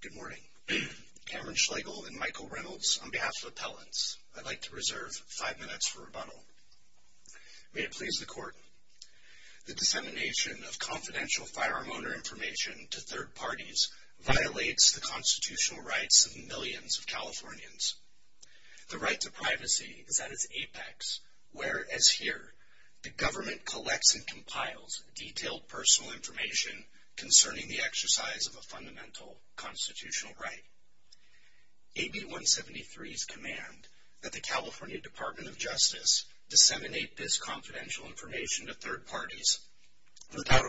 Good morning, Cameron Schlegel and Michael Reynolds, on behalf of Appellants, I'd like to reserve five minutes for rebuttal. May it please the Court, the dissemination of confidential firearm owner information to third parties violates the constitutional rights of millions of Californians. The right to privacy is at its apex, whereas here the government collects and compiles detailed personal information concerning the exercise of a fundamental constitutional right. AB 173's command that the California Department of Justice disseminate this confidential information to third parties without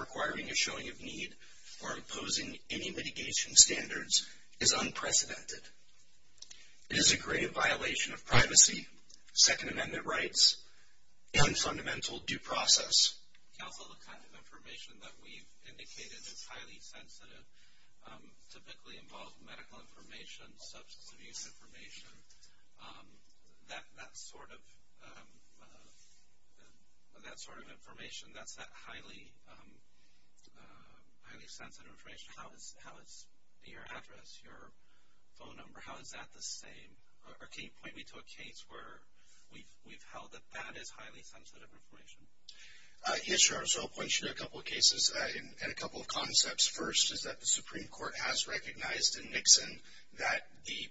requiring a showing of need or imposing any mitigation standards is unprecedented. It is a grave violation of privacy, Second Amendment rights, and fundamental due process. Can you point me to a case where we've held that that is highly sensitive information? Yes, I'll point you to a couple of cases and a couple of concepts. First is that the Supreme Court has recognized in Nixon that the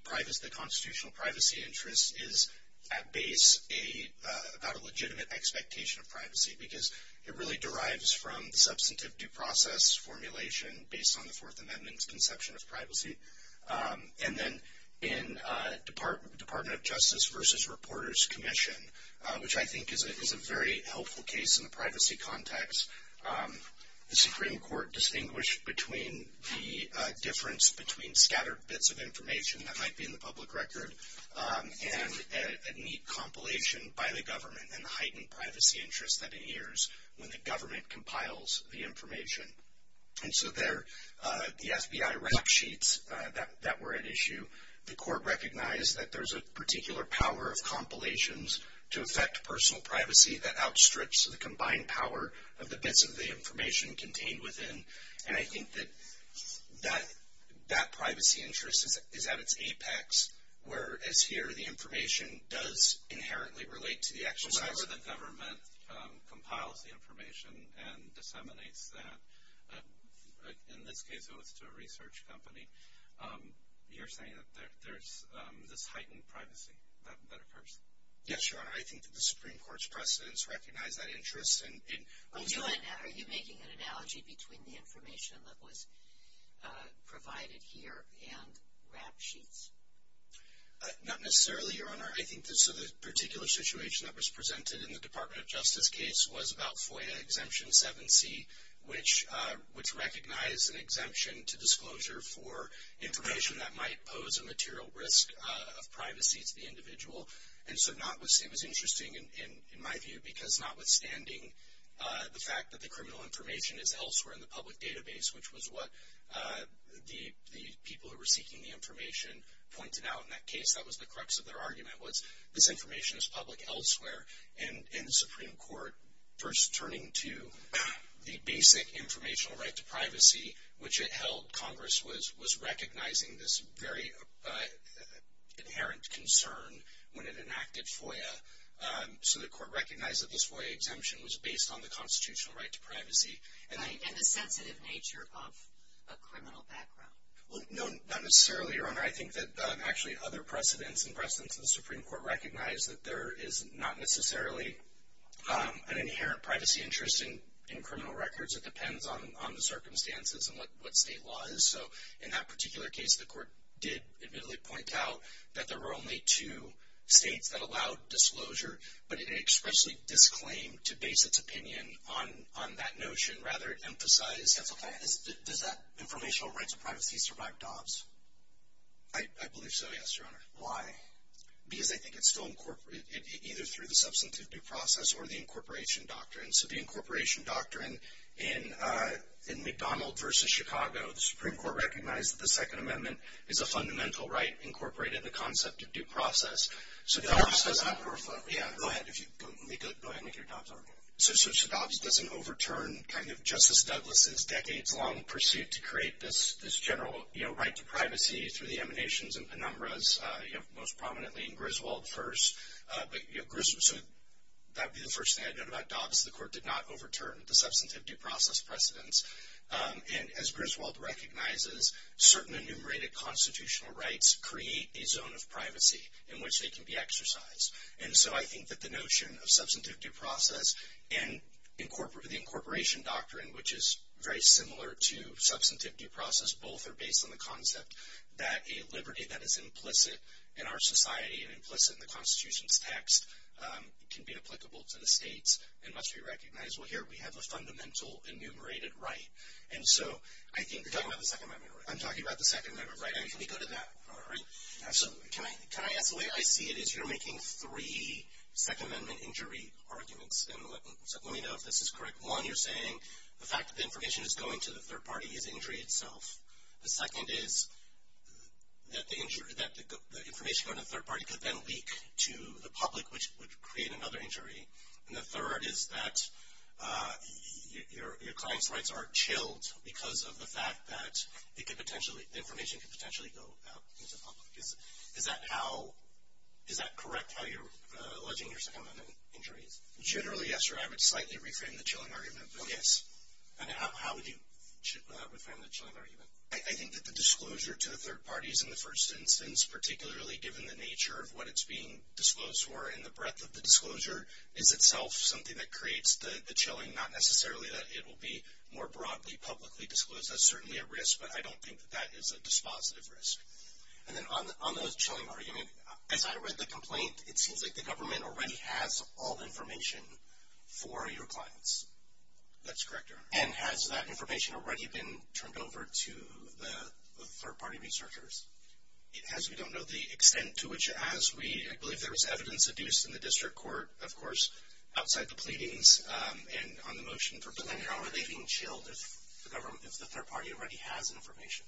constitutional privacy interest is at base about a legitimate expectation of privacy because it really derives from the substantive due process formulation based on the Fourth Amendment's conception of privacy. And then in Department of Justice v. Reporters Commission, which I think is a very helpful case in the privacy context, the Supreme Court distinguished between the difference between scattered bits of information that might be in the public record and a neat compilation by the government and the heightened privacy interest that it hears when the government compiles the information. And so there, the FBI rap sheets that were at issue, the court recognized that there's a that outstrips the combined power of the bits of the information contained within. And I think that that privacy interest is at its apex, whereas here the information does inherently relate to the exercise. So whenever the government compiles the information and disseminates that, in this case it was to a research company, you're saying that there's this heightened privacy that occurs? Yes, Your Honor. I think that the Supreme Court's precedents recognize that interest. Are you making an analogy between the information that was provided here and rap sheets? Not necessarily, Your Honor. I think the particular situation that was presented in the Department of Justice case was about FOIA Exemption 7C, which recognized an exemption to disclosure for information that might pose a material risk of privacy to the individual. And so it was interesting in my view, because notwithstanding the fact that the criminal information is elsewhere in the public database, which was what the people who were seeking the information pointed out in that case, that was the crux of their argument, was this information is public elsewhere. And the Supreme Court, first turning to the basic informational right to privacy, which it held Congress was recognizing this very inherent concern when it enacted FOIA. So the court recognized that this FOIA exemption was based on the constitutional right to privacy. And the sensitive nature of a criminal background. Well, no, not necessarily, Your Honor. I think that actually other precedents and precedents in the Supreme Court recognize that there is not necessarily an inherent privacy interest in criminal records. It depends on the circumstances and what state law is. So in that particular case, the court did admittedly point out that there were only two states that allowed disclosure, but it expressly disclaimed to base its opinion on that notion, rather it emphasized Does that informational right to privacy survive DOPS? I believe so, yes, Your Honor. Why? Because I think it's still incorporated, either through the substantivity process or the incorporation doctrine. So the incorporation doctrine in McDonald v. Chicago, the Supreme Court recognized that the Second Amendment is a fundamental right incorporated in the concept of due process. So DOPS doesn't overturn Justice Douglas' decades-long pursuit to create this general right to privacy through the emanations and penumbras, most prominently in Griswold first. So that would be the first thing I'd note about DOPS, the court did not overturn the substantivity process precedents. And as Griswold recognizes, certain enumerated constitutional rights create a zone of privacy in which they can be exercised. And so I think that the notion of substantivity process and the incorporation doctrine, which is very similar to substantivity process, both are based on the concept that a liberty that is implicit in our society and implicit in the Constitution's text can be applicable to the states and must be recognized. Well, here we have a fundamental enumerated right. And so I think... You're talking about the Second Amendment right? I'm talking about the Second Amendment right. And can we go to that? All right. Absolutely. Can I ask, the way I see it is you're making three Second Amendment injury arguments. And let me know if this is correct. One, you're saying the fact that the information is going to the third party is injury itself. The second is that the information going to the third party could then leak to the public, which would create another injury. And the third is that your client's rights are chilled because of the fact that the information could potentially go out into the public. Is that correct how you're alleging your Second Amendment injuries? Generally, yes. I would slightly reframe the chilling argument. Yes. And how would you reframe the chilling argument? I think that the disclosure to the third party is in the first instance, particularly given the nature of what it's being disclosed for and the breadth of the disclosure is itself something that creates the chilling, not necessarily that it will be more broadly publicly disclosed. That's certainly a risk, but I don't think that that is a dispositive risk. And then on the chilling argument, as I read the complaint, it seems like the government already has all information for your clients. That's correct, Your Honor. And has that information already been turned over to the third party researchers? As we don't know the extent to which it has, we believe there was evidence adduced in the district court, of course, outside the pleadings and on the motion for planning. But then how are they being chilled if the third party already has information?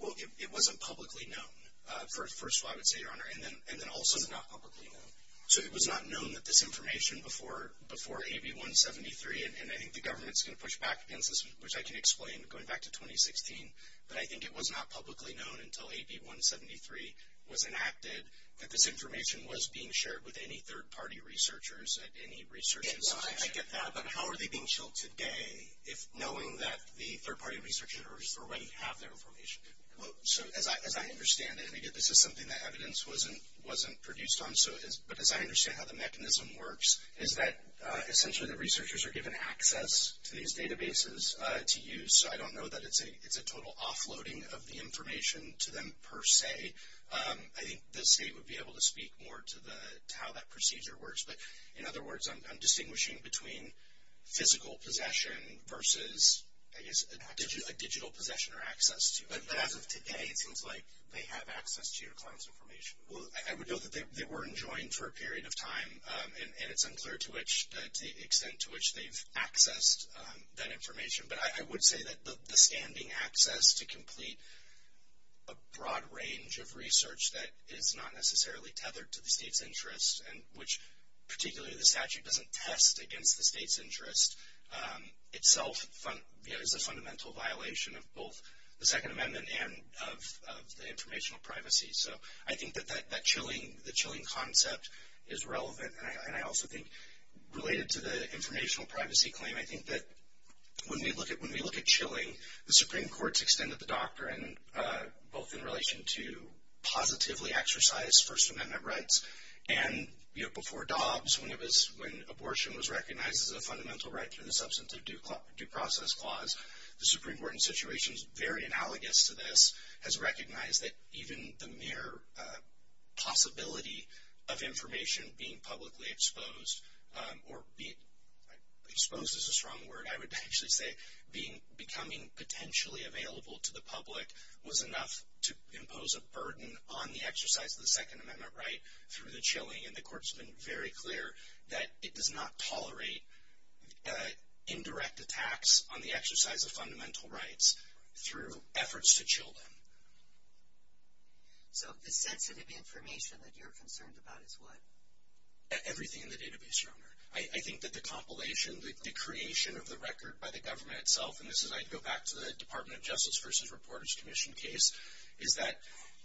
Well, it wasn't publicly known, first of all, I would say, Your Honor, and then also not publicly known. So it was not known that this information before AB 173, and I think the government is going to push back against this, which I can explain going back to 2016, but I think it was not publicly known until AB 173 was enacted that this information was being shared with any third party researchers at any research institution. Well, I get that, but how are they being chilled today if knowing that the third party researchers already have their information? So as I understand it, and again, this is something that evidence wasn't produced on, but as I understand how the mechanism works, is that essentially the researchers are given access to these databases to use. So I don't know that it's a total offloading of the information to them per se. I think the state would be able to speak more to how that procedure works. But, in other words, I'm distinguishing between physical possession versus, I guess, a digital possession or access to. But as of today, it seems like they have access to your client's information. I would note that they weren't joined for a period of time, and it's unclear to the extent to which they've accessed that information. But I would say that the standing access to complete a broad range of research that is not necessarily tethered to the state's interest, and which particularly the statute doesn't test against the state's interest, itself is a fundamental violation of both the Second Amendment and of the informational privacy. So I think that that chilling concept is relevant. And I also think, related to the informational privacy claim, I think that when we look at chilling, the Supreme Court's extended the doctrine, both in relation to positively exercised First Amendment rights, and before Dobbs, when abortion was recognized as a fundamental right through the substantive due process clause, the Supreme Court, in situations very analogous to this, has recognized that even the mere possibility of information being publicly exposed, or exposed is a strong word, I would actually say, becoming potentially available to the public was enough to impose a burden on the exercise of the Second Amendment right through the chilling. And the Court's been very clear that it does not tolerate indirect attacks on the exercise of fundamental rights through efforts to chill them. So the sensitive information that you're concerned about is what? Everything in the database, Your Honor. I think that the compilation, the creation of the record by the government itself, and this is, I'd go back to the Department of Justice v. Reporters Commission case, is that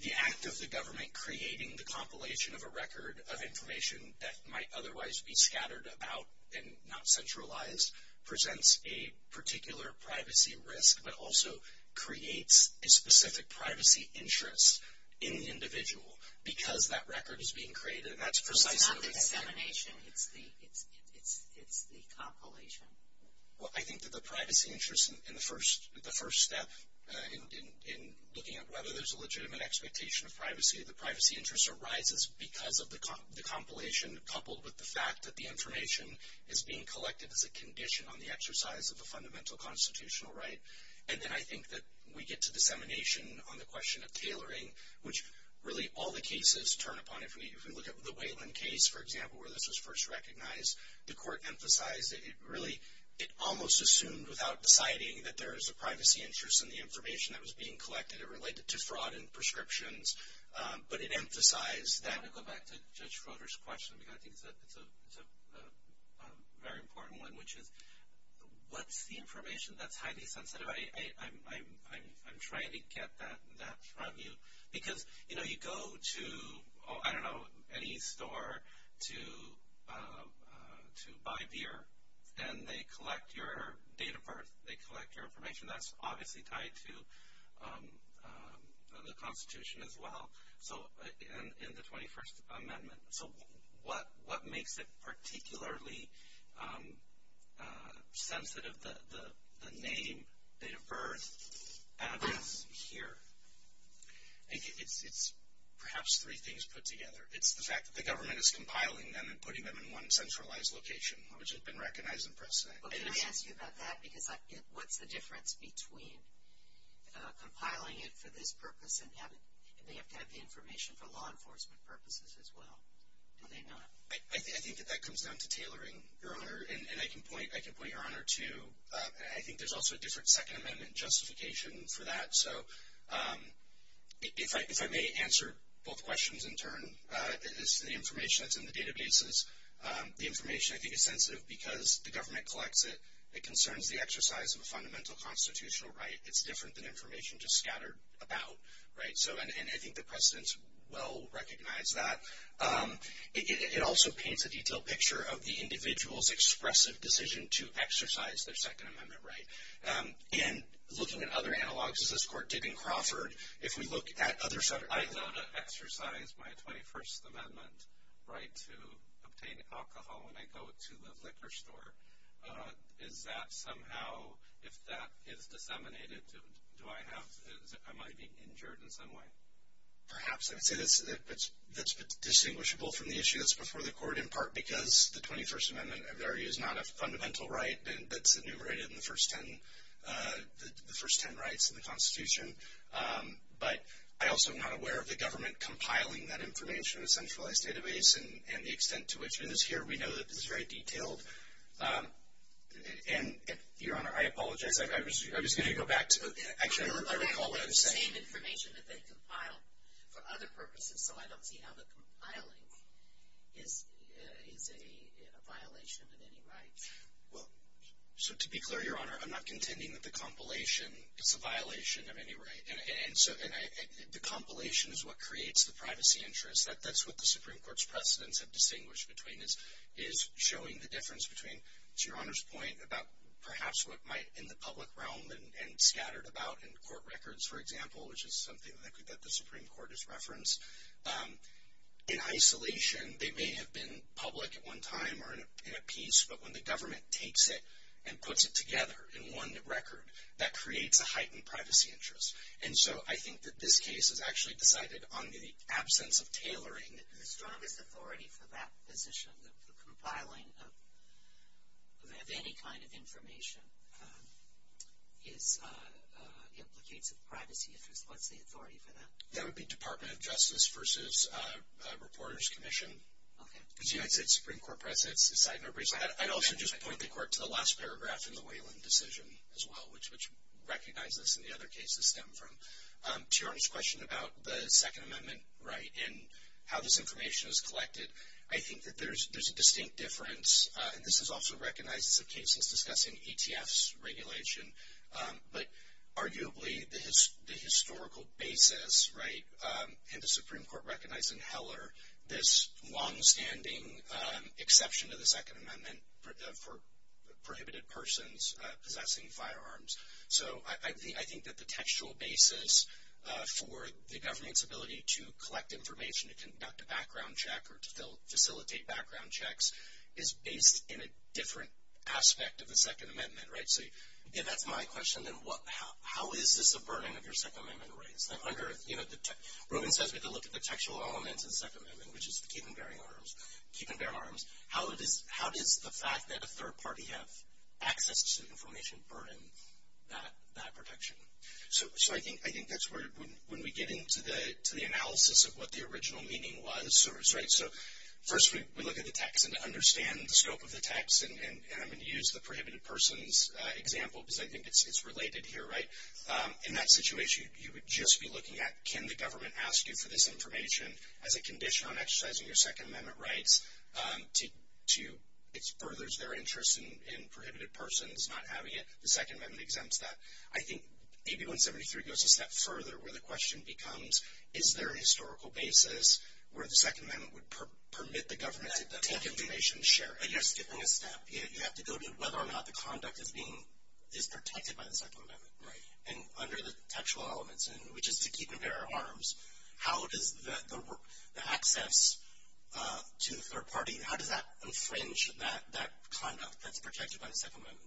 the act of the government creating the compilation of a record of information that might otherwise be scattered about and not centralized presents a particular privacy risk, but also creates a specific privacy interest in the individual because that record is being created. It's not the dissemination, it's the compilation. Well, I think that the privacy interest in the first step in looking at whether there's a legitimate expectation of privacy, the privacy interest arises because of the compilation coupled with the fact that the information is being collected as a condition on the exercise of the fundamental constitutional right. And then I think that we get to dissemination on the question of tailoring, which really all the cases turn upon. If we look at the Wayland case, for example, where this was first recognized, the Court emphasized that it really almost assumed without deciding that there is a privacy interest in the information that was being collected. It related to fraud and prescriptions, but it emphasized that. I want to go back to Judge Froder's question because I think it's a very important one, which is what's the information that's highly sensitive? I'm trying to get that from you because, you know, you go to, I don't know, any store to buy beer, and they collect your date of birth. They collect your information. That's obviously tied to the Constitution as well. So in the 21st Amendment. So what makes it particularly sensitive, the name, date of birth, address here? I think it's perhaps three things put together. It's the fact that the government is compiling them and putting them in one centralized location, which has been recognized in precedent. Well, can I ask you about that? Because what's the difference between compiling it for this purpose and they have to have the information for law enforcement purposes as well? Do they not? I think that that comes down to tailoring, Your Honor, and I can point Your Honor to, I think there's also a different Second Amendment justification for that. So if I may answer both questions in turn, it's the information that's in the databases. The information, I think, is sensitive because the government collects it. It concerns the exercise of a fundamental constitutional right. It's different than information just scattered about. And I think the precedents well recognize that. It also paints a detailed picture of the individual's expressive decision to exercise their Second Amendment right. And looking at other analogs, as this Court did in Crawford, if we look at other subjects. I know to exercise my 21st Amendment right to obtain alcohol when I go to the liquor store. Is that somehow, if that is disseminated, do I have, am I being injured in some way? Perhaps. I would say that's distinguishable from the issue that's before the Court, in part because the 21st Amendment is not a fundamental right that's enumerated in the first ten rights in the Constitution. But I also am not aware of the government compiling that information in a centralized database and the extent to which. And here we know that this is very detailed. And, Your Honor, I apologize. I was going to go back to. Actually, I recall what I was saying. The same information that they compiled for other purposes, so I don't see how the compiling is a violation of any right. Well, so to be clear, Your Honor, I'm not contending that the compilation is a violation of any right. The compilation is what creates the privacy interest. That's what the Supreme Court's precedents have distinguished between, is showing the difference between, to Your Honor's point, about perhaps what might in the public realm and scattered about in court records, for example, which is something that the Supreme Court has referenced. In isolation, they may have been public at one time or in a piece, but when the government takes it and puts it together in one record, that creates a heightened privacy interest. And so I think that this case is actually decided on the absence of tailoring. The strongest authority for that position, the compiling of any kind of information, implicates a privacy interest. What's the authority for that? That would be Department of Justice versus Reporters Commission. Okay. Because you had said Supreme Court precedents. I'd also just point the court to the last paragraph in the Whelan decision as well, which recognizes this and the other cases stem from. To Your Honor's question about the Second Amendment, right, and how this information is collected, I think that there's a distinct difference. This is also recognized as a case that's discussing ETFs regulation, but arguably the historical basis, right, in the Supreme Court recognizing Heller, this longstanding exception to the Second Amendment for prohibited persons possessing firearms. So I think that the textual basis for the government's ability to collect information, to conduct a background check, or to facilitate background checks, is based in a different aspect of the Second Amendment, right? If that's my question, then how is this a burden of your Second Amendment rights? Robin says we have to look at the textual elements of the Second Amendment, which is keep and bear arms. How does the fact that a third party have access to information burden that protection? So I think that's where, when we get into the analysis of what the original meaning was, right, so first we look at the text and understand the scope of the text, and I'm going to use the prohibited persons example because I think it's related here, right? In that situation, you would just be looking at can the government ask you for this information as a condition on exercising your Second Amendment rights to, it furthers their interest in prohibited persons not having it. The Second Amendment exempts that. I think AB 173 goes a step further where the question becomes is there a historical basis where the Second Amendment would permit the government to take information and share it. But you're skipping a step. You have to go to whether or not the conduct is being, is protected by the Second Amendment. Right. And under the textual elements, which is to keep and bear arms, how does the access to the third party, how does that infringe that conduct that's protected by the Second Amendment?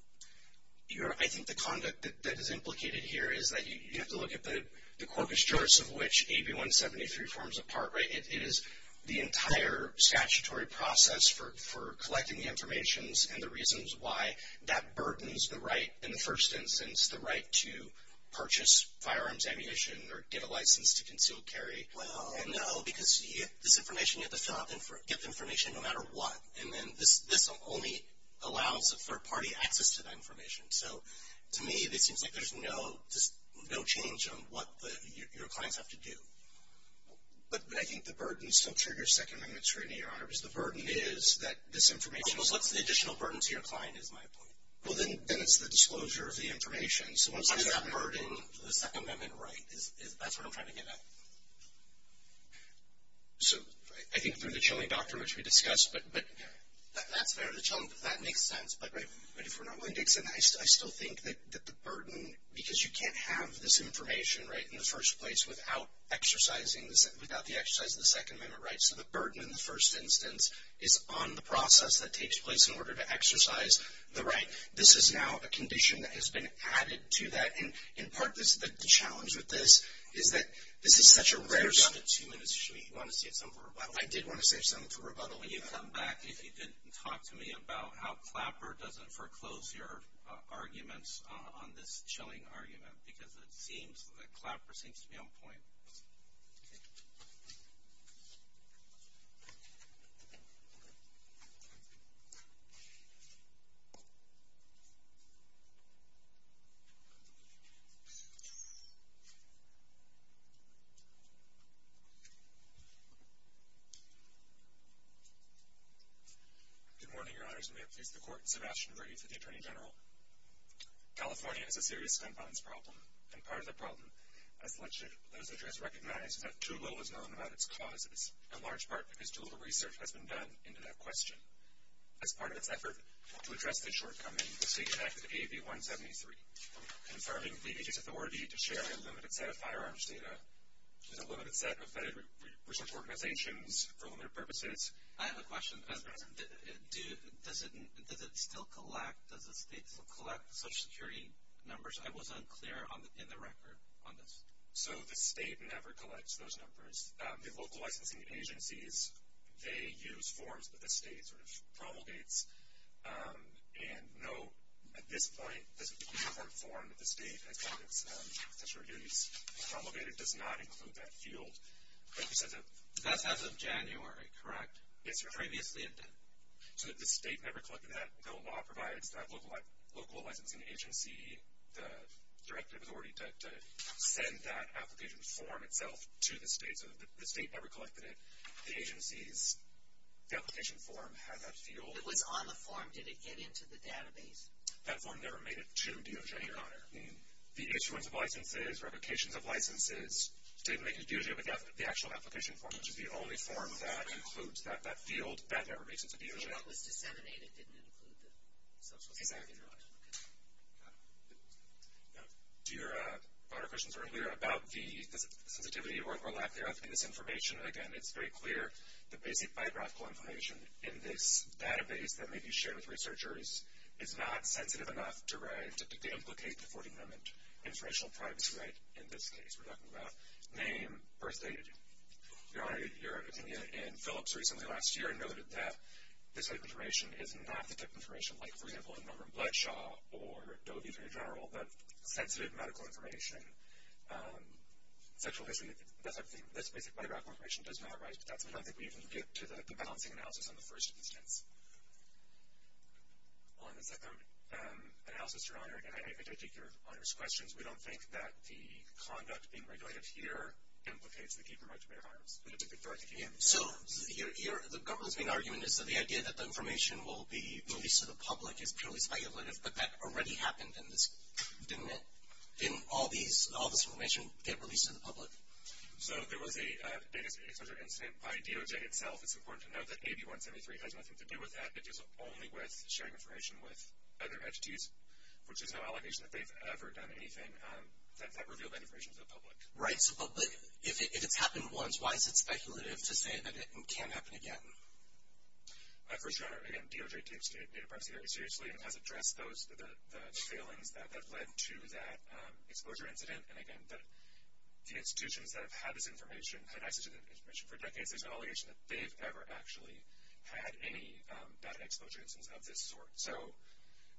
I think the conduct that is implicated here is that you have to look at the corpus juris of which AB 173 forms a part, right? It is the entire statutory process for collecting the information and the reasons why that burdens the right in the first instance, the right to purchase firearms, ammunition, or get a license to conceal carry. And no, because this information you have to fill out, get the information no matter what. And then this only allows a third party access to that information. So to me, it seems like there's no change on what your clients have to do. But I think the burden still triggers Second Amendment scrutiny, Your Honor, because the burden is that this information is. Well, what's the additional burden to your client is my point. Well, then it's the disclosure of the information. So what's that burden? How does that burden the Second Amendment right? That's what I'm trying to get at. So I think through the chilling doctrine, which we discussed, but. That's fair. That makes sense. But if we're not willing to extend that, I still think that the burden, because you can't have this information, right, in the first place without exercising, without the exercise of the Second Amendment rights. So the burden in the first instance is on the process that takes place in order to exercise the right. This is now a condition that has been added to that. And part of the challenge with this is that this is such a rare. We've got about two minutes. Do you want to say something to rebuttal? I did want to say something to rebuttal. When you come back, if you didn't, talk to me about how Clapper doesn't foreclose your arguments on this chilling argument. Because it seems that Clapper seems to be on point. Good morning, Your Honors. And may it please the Court, Sebastian Graves with the Attorney General. California has a serious gun violence problem. And part of the problem, as the legislature has recognized, is that too little is known about its causes, in large part because too little research has been done into that question. As part of its effort to address this shortcoming, the state enacted AB 173, confirming the agency's authority to share a limited set of firearms data and a limited set of vetted research organizations for limited purposes. I have a question. Does it still collect? Does the state still collect Social Security numbers? I wasn't clear in the record on this. So the state never collects those numbers. The local licensing agencies, they use forms that the state sort of promulgates. And no, at this point, this report form that the state has gotten, that Social Security has promulgated, does not include that field. That's as of January, correct? Yes, Your Honor. Previously it did. So the state never collected that. The law provides that local licensing agency the directive authority to send that application form itself to the state. So the state never collected it. The agency's application form has that field. It was on the form. Did it get into the database? That form never made it to DOJ, Your Honor. The issuance of licenses, replications of licenses, didn't make it to DOJ with the actual application form, which is the only form that includes that field. That never makes it to DOJ. So what was disseminated didn't include the Social Security number? Exactly. To your broader questions earlier about the sensitivity or lack thereof in this information, again, it's very clear the basic biographical information in this database that may be shared with researchers is not sensitive enough to implicate the 40-minute informational privacy right in this case. We're talking about name, birth date. Your Honor, your opinion in Phillips recently last year noted that this type of information is not the type of information like, for example, a number in Bloodshaw or Doe v. General, but sensitive medical information, sexual history, that type of thing. This basic biographical information does not arise, and that's why I don't think we even get to the balancing analysis on the first instance. On the second analysis, Your Honor, and I take your Honor's questions, we don't think that the conduct being regulated here implicates the key promoter of the virus. So the government's main argument is that the idea that the information will be released to the public is purely speculative, but that already happened in this, didn't it? Didn't all this information get released to the public? So there was a data exposure incident by DOJ itself. It's important to note that AB 173 has nothing to do with that. It deals only with sharing information with other entities, which is no allegation that they've ever done anything that revealed that information to the public. Right, but if it's happened once, why is it speculative to say that it can happen again? First, Your Honor, again, DOJ takes data privacy very seriously and has addressed the failings that led to that exposure incident. And again, the institutions that have had this information, had access to this information for decades, there's no allegation that they've ever actually had any data exposure incidents of this sort. So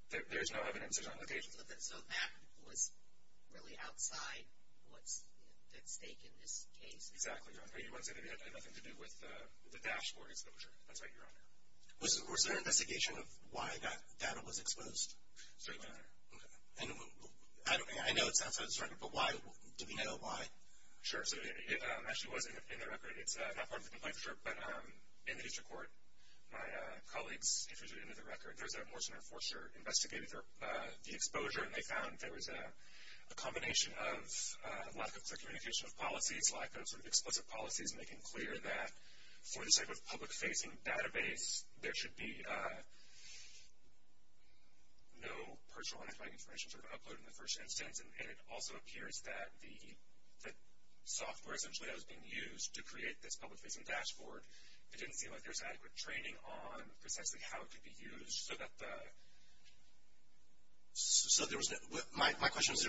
there's no evidence, there's no allegations. So that was really outside what's at stake in this case? Exactly, Your Honor. You want to say that it had nothing to do with the dashboard exposure? That's right, Your Honor. Was there an investigation of why that data was exposed? I know it's outside of this record, but why? Do we know why? Sure. So it actually was in the record. It's not part of the complaint for sure, but in the district court, my colleagues introduced it into the record. There was a Morse and Enforcer investigating the exposure, and they found there was a combination of lack of communication of policies, lack of sort of explicit policies making clear that for this type of public-facing database, there should be no personal identifying information sort of uploaded in the first instance, and it also appears that the software essentially that was being used to create this public-facing dashboard, it didn't seem like there was adequate training on precisely how it could be used so that the... So there was no... My question was,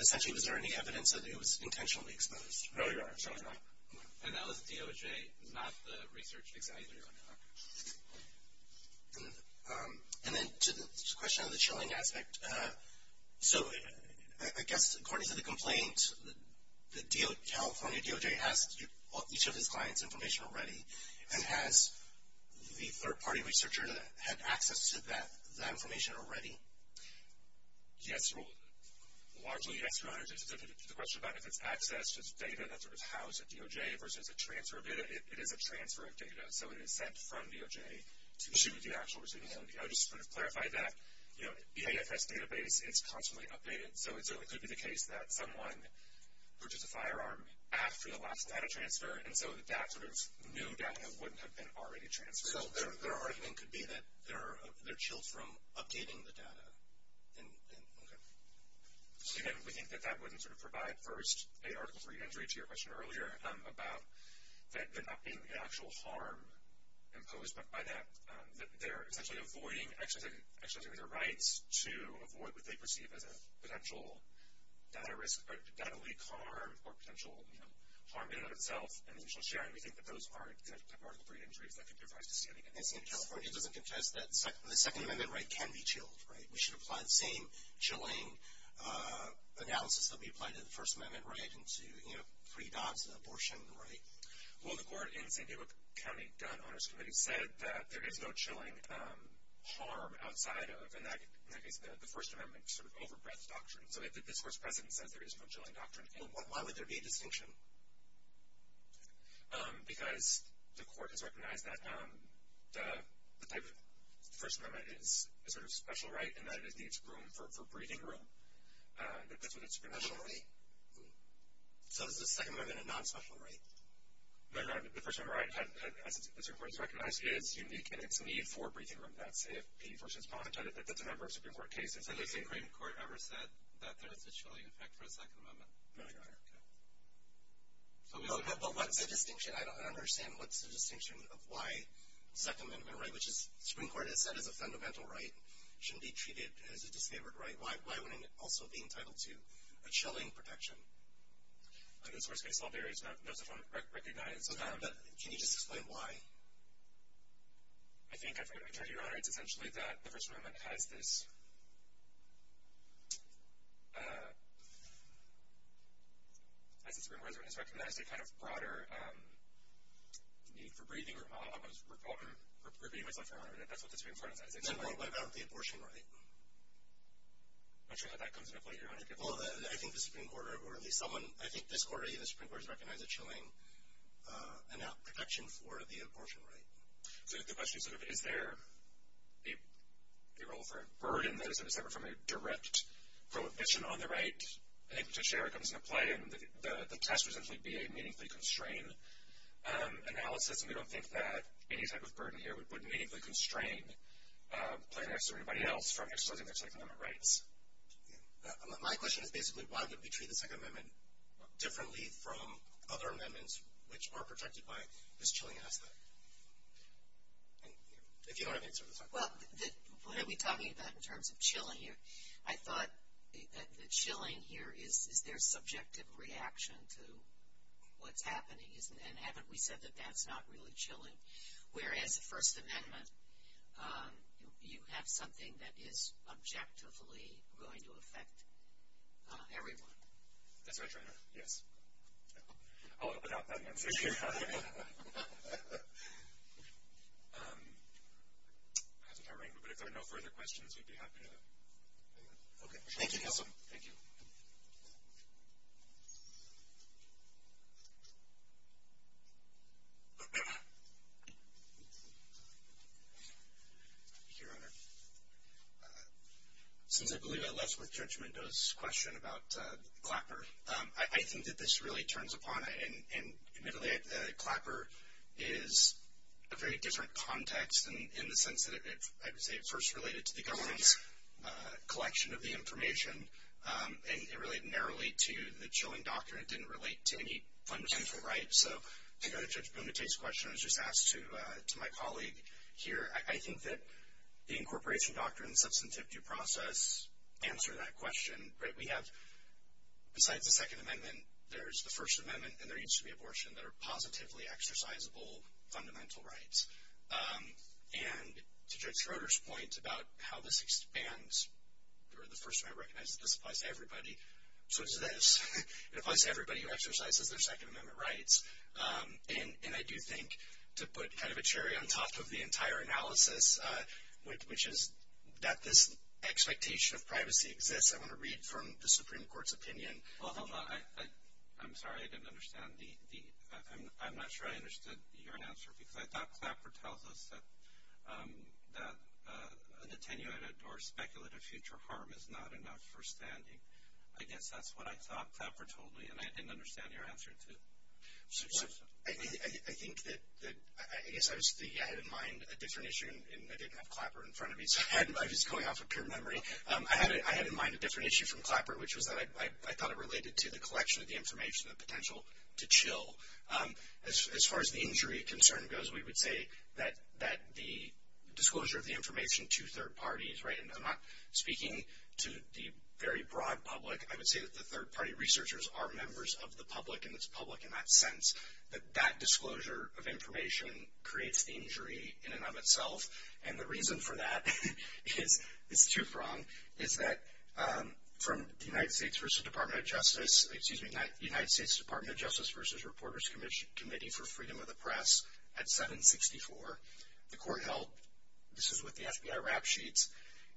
essentially, was there any evidence that it was intentionally exposed? No, Your Honor, certainly not. And that was DOJ, not the research examiner, Your Honor. And then to the question on the chilling aspect, so I guess according to the complaint, the California DOJ has each of its clients' information already, and has the third-party researcher had access to that information already? The question about if it's access to the data that's sort of housed at DOJ versus a transfer of data, it is a transfer of data, so it is sent from DOJ to the actual receiving end. I would just sort of clarify that. You know, the AFS database is constantly updated, so it could be the case that someone purchased a firearm after the last data transfer, and so that sort of new data wouldn't have been already transferred. So their argument could be that they're chilled from updating the data. Okay. So, again, we think that that wouldn't sort of provide, first, a Article III entry to your question earlier about there not being an actual harm imposed, but by that they're essentially avoiding exercising their rights to avoid what they perceive as a potential data leak harm or potential harm in and of itself, and the initial sharing. We think that those aren't Article III entries that could be revised to see anything else. I see in California it doesn't contest that the Second Amendment right can be chilled, right? We should apply the same chilling analysis that we applied to the First Amendment right and to, you know, free dogs and abortion, right? Well, the court in the St. David County Gun Owners Committee said that there is no chilling harm outside of, and that is the First Amendment sort of over-breath doctrine. So this Court's precedent says there is no chilling doctrine. Well, why would there be a distinction? Because the Court has recognized that the type of First Amendment is a sort of special right and that it needs room for breathing room. That's what it's been called. So is the Second Amendment a non-special right? No, no, the First Amendment right, as the Supreme Court has recognized, is unique in its need for breathing room. That's if people should apologize. That's a member of the Supreme Court case. Has the Supreme Court ever said that there is a chilling effect for a Second Amendment? No, Your Honor. But what's the distinction? I don't understand. What's the distinction of why the Second Amendment right, which the Supreme Court has said is a fundamental right, shouldn't be treated as a disfavored right? Why wouldn't it also be entitled to a chilling protection? I think the source-based law varies, and that's what we've recognized. Can you just explain why? I think, Your Honor, it's essentially that the First Amendment has this, as the Supreme Court has recognized, a kind of broader need for breathing room. I was repeating myself, Your Honor. That's what the Supreme Court has said. What about the abortion right? I'm not sure how that comes into play, Your Honor. Well, I think the Supreme Court, or at least someone, I think this Court or even the Supreme Court has recognized a chilling protection for the abortion right. So the question is sort of, is there a role for a burden that is separate from a direct prohibition on the right? I think potentially where it comes into play, the test would essentially be a meaningfully constrained analysis, and we don't think that any type of burden here would meaningfully constrain plaintiffs or anybody else from exercising their Second Amendment rights. My question is basically, why would we treat the Second Amendment differently from other amendments which are protected by this chilling aspect? If you don't have an answer, I'm sorry. Well, what are we talking about in terms of chilling here? I thought that chilling here is their subjective reaction to what's happening, whereas the First Amendment, you have something that is objectively going to affect everyone. That's right, Your Honor. Yes. I'll open up that one for you. But if there are no further questions, we'd be happy to. Okay. Thank you, counsel. Thank you. Thank you, Your Honor. Since I believe I left with Judge Mendoza's question about Clapper, I think that this really turns upon it. And admittedly, Clapper is a very different context in the sense that it, I would say, first related to the government's collection of the information, and it related narrowly to the chilling doctrine. It didn't relate to any fundamental rights. So to go to Judge Bunate's question, I was just asked to my colleague here, I think that the incorporation doctrine and substantive due process answer that question. We have, besides the Second Amendment, there's the First Amendment and there used to be abortion that are positively exercisable fundamental rights. And to Judge Schroeder's point about how this expands, the First Amendment recognizes this applies to everybody. So does this. It applies to everybody who exercises their Second Amendment rights. And I do think to put kind of a cherry on top of the entire analysis, which is that this expectation of privacy exists, I want to read from the Supreme Court's opinion. I'm sorry, I didn't understand. I'm not sure I understood your answer because I thought Clapper tells us that an attenuated or speculative future harm is not enough for standing. I guess that's what I thought Clapper told me, and I didn't understand your answer, too. So I think that, I guess I had in mind a different issue, and I didn't have Clapper in front of me, so I was going off of pure memory. I had in mind a different issue from Clapper, which was that I thought it related to the collection of the information, the potential to chill. As far as the injury concern goes, we would say that the disclosure of the information to third parties, right, and I'm not speaking to the very broad public. I would say that the third-party researchers are members of the public, and it's public in that sense, that that disclosure of information creates the injury in and of itself. And the reason for that is, it's too pronged, is that from the United States Department of Justice, excuse me, United States Department of Justice versus Reporters Committee for Freedom of the Press at 764, the court held, this is with the FBI rap sheets,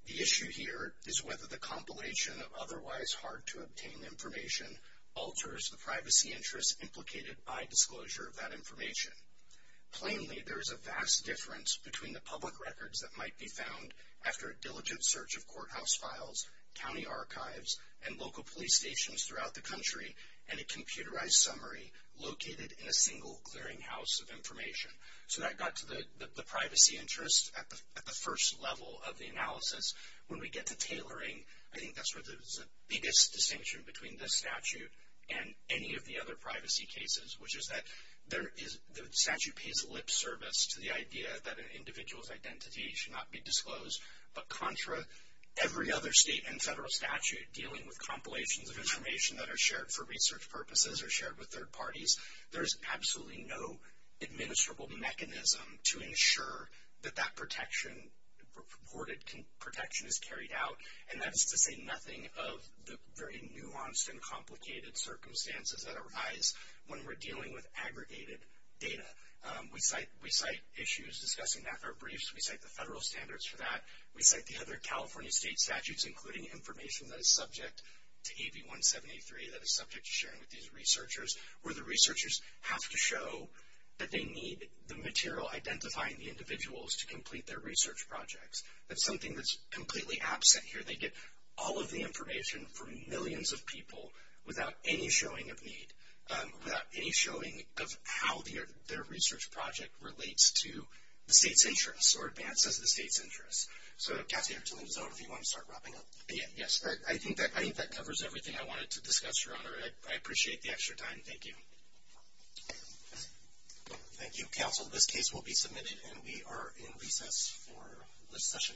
the issue here is whether the compilation of otherwise hard-to-obtain information alters the privacy interests implicated by disclosure of that information. Plainly, there is a vast difference between the public records that might be found after a diligent search of courthouse files, county archives, and local police stations throughout the country, and a computerized summary located in a single clearinghouse of information. So that got to the privacy interest at the first level of the analysis. When we get to tailoring, I think that's where there's the biggest distinction between this statute and any of the other privacy cases, which is that there is, the statute pays lip service to the idea that an individual's identity should not be disclosed, but contra every other state and federal statute dealing with compilations of information that are shared for research purposes or shared with third parties, there is absolutely no administrable mechanism to ensure that that protection, reported protection, is carried out. And that is to say nothing of the very nuanced and complicated circumstances that arise when we're dealing with aggregated data. We cite issues discussing NAFTA briefs. We cite the federal standards for that. We cite the other California state statutes, including information that is subject to AB 173, that is subject to sharing with these researchers. Where the researchers have to show that they need the material identifying the individuals to complete their research projects. That's something that's completely absent here. They get all of the information from millions of people without any showing of need, without any showing of how their research project relates to the state's interests or advances the state's interests. So Kathy, I'll turn this over if you want to start wrapping up. Yes. I think that covers everything I wanted to discuss, Your Honor. I appreciate the extra time. Thank you. Thank you, counsel. This case will be submitted, and we are in recess for this session.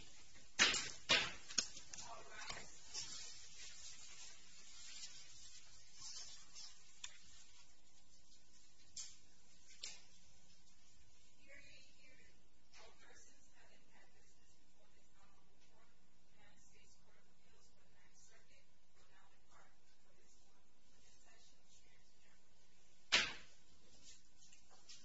All rise. Hear ye, hear ye. All persons having had business before this hour or before the United States Court of Appeals for the Ninth Circuit will now depart for this one. Recession is adjourned.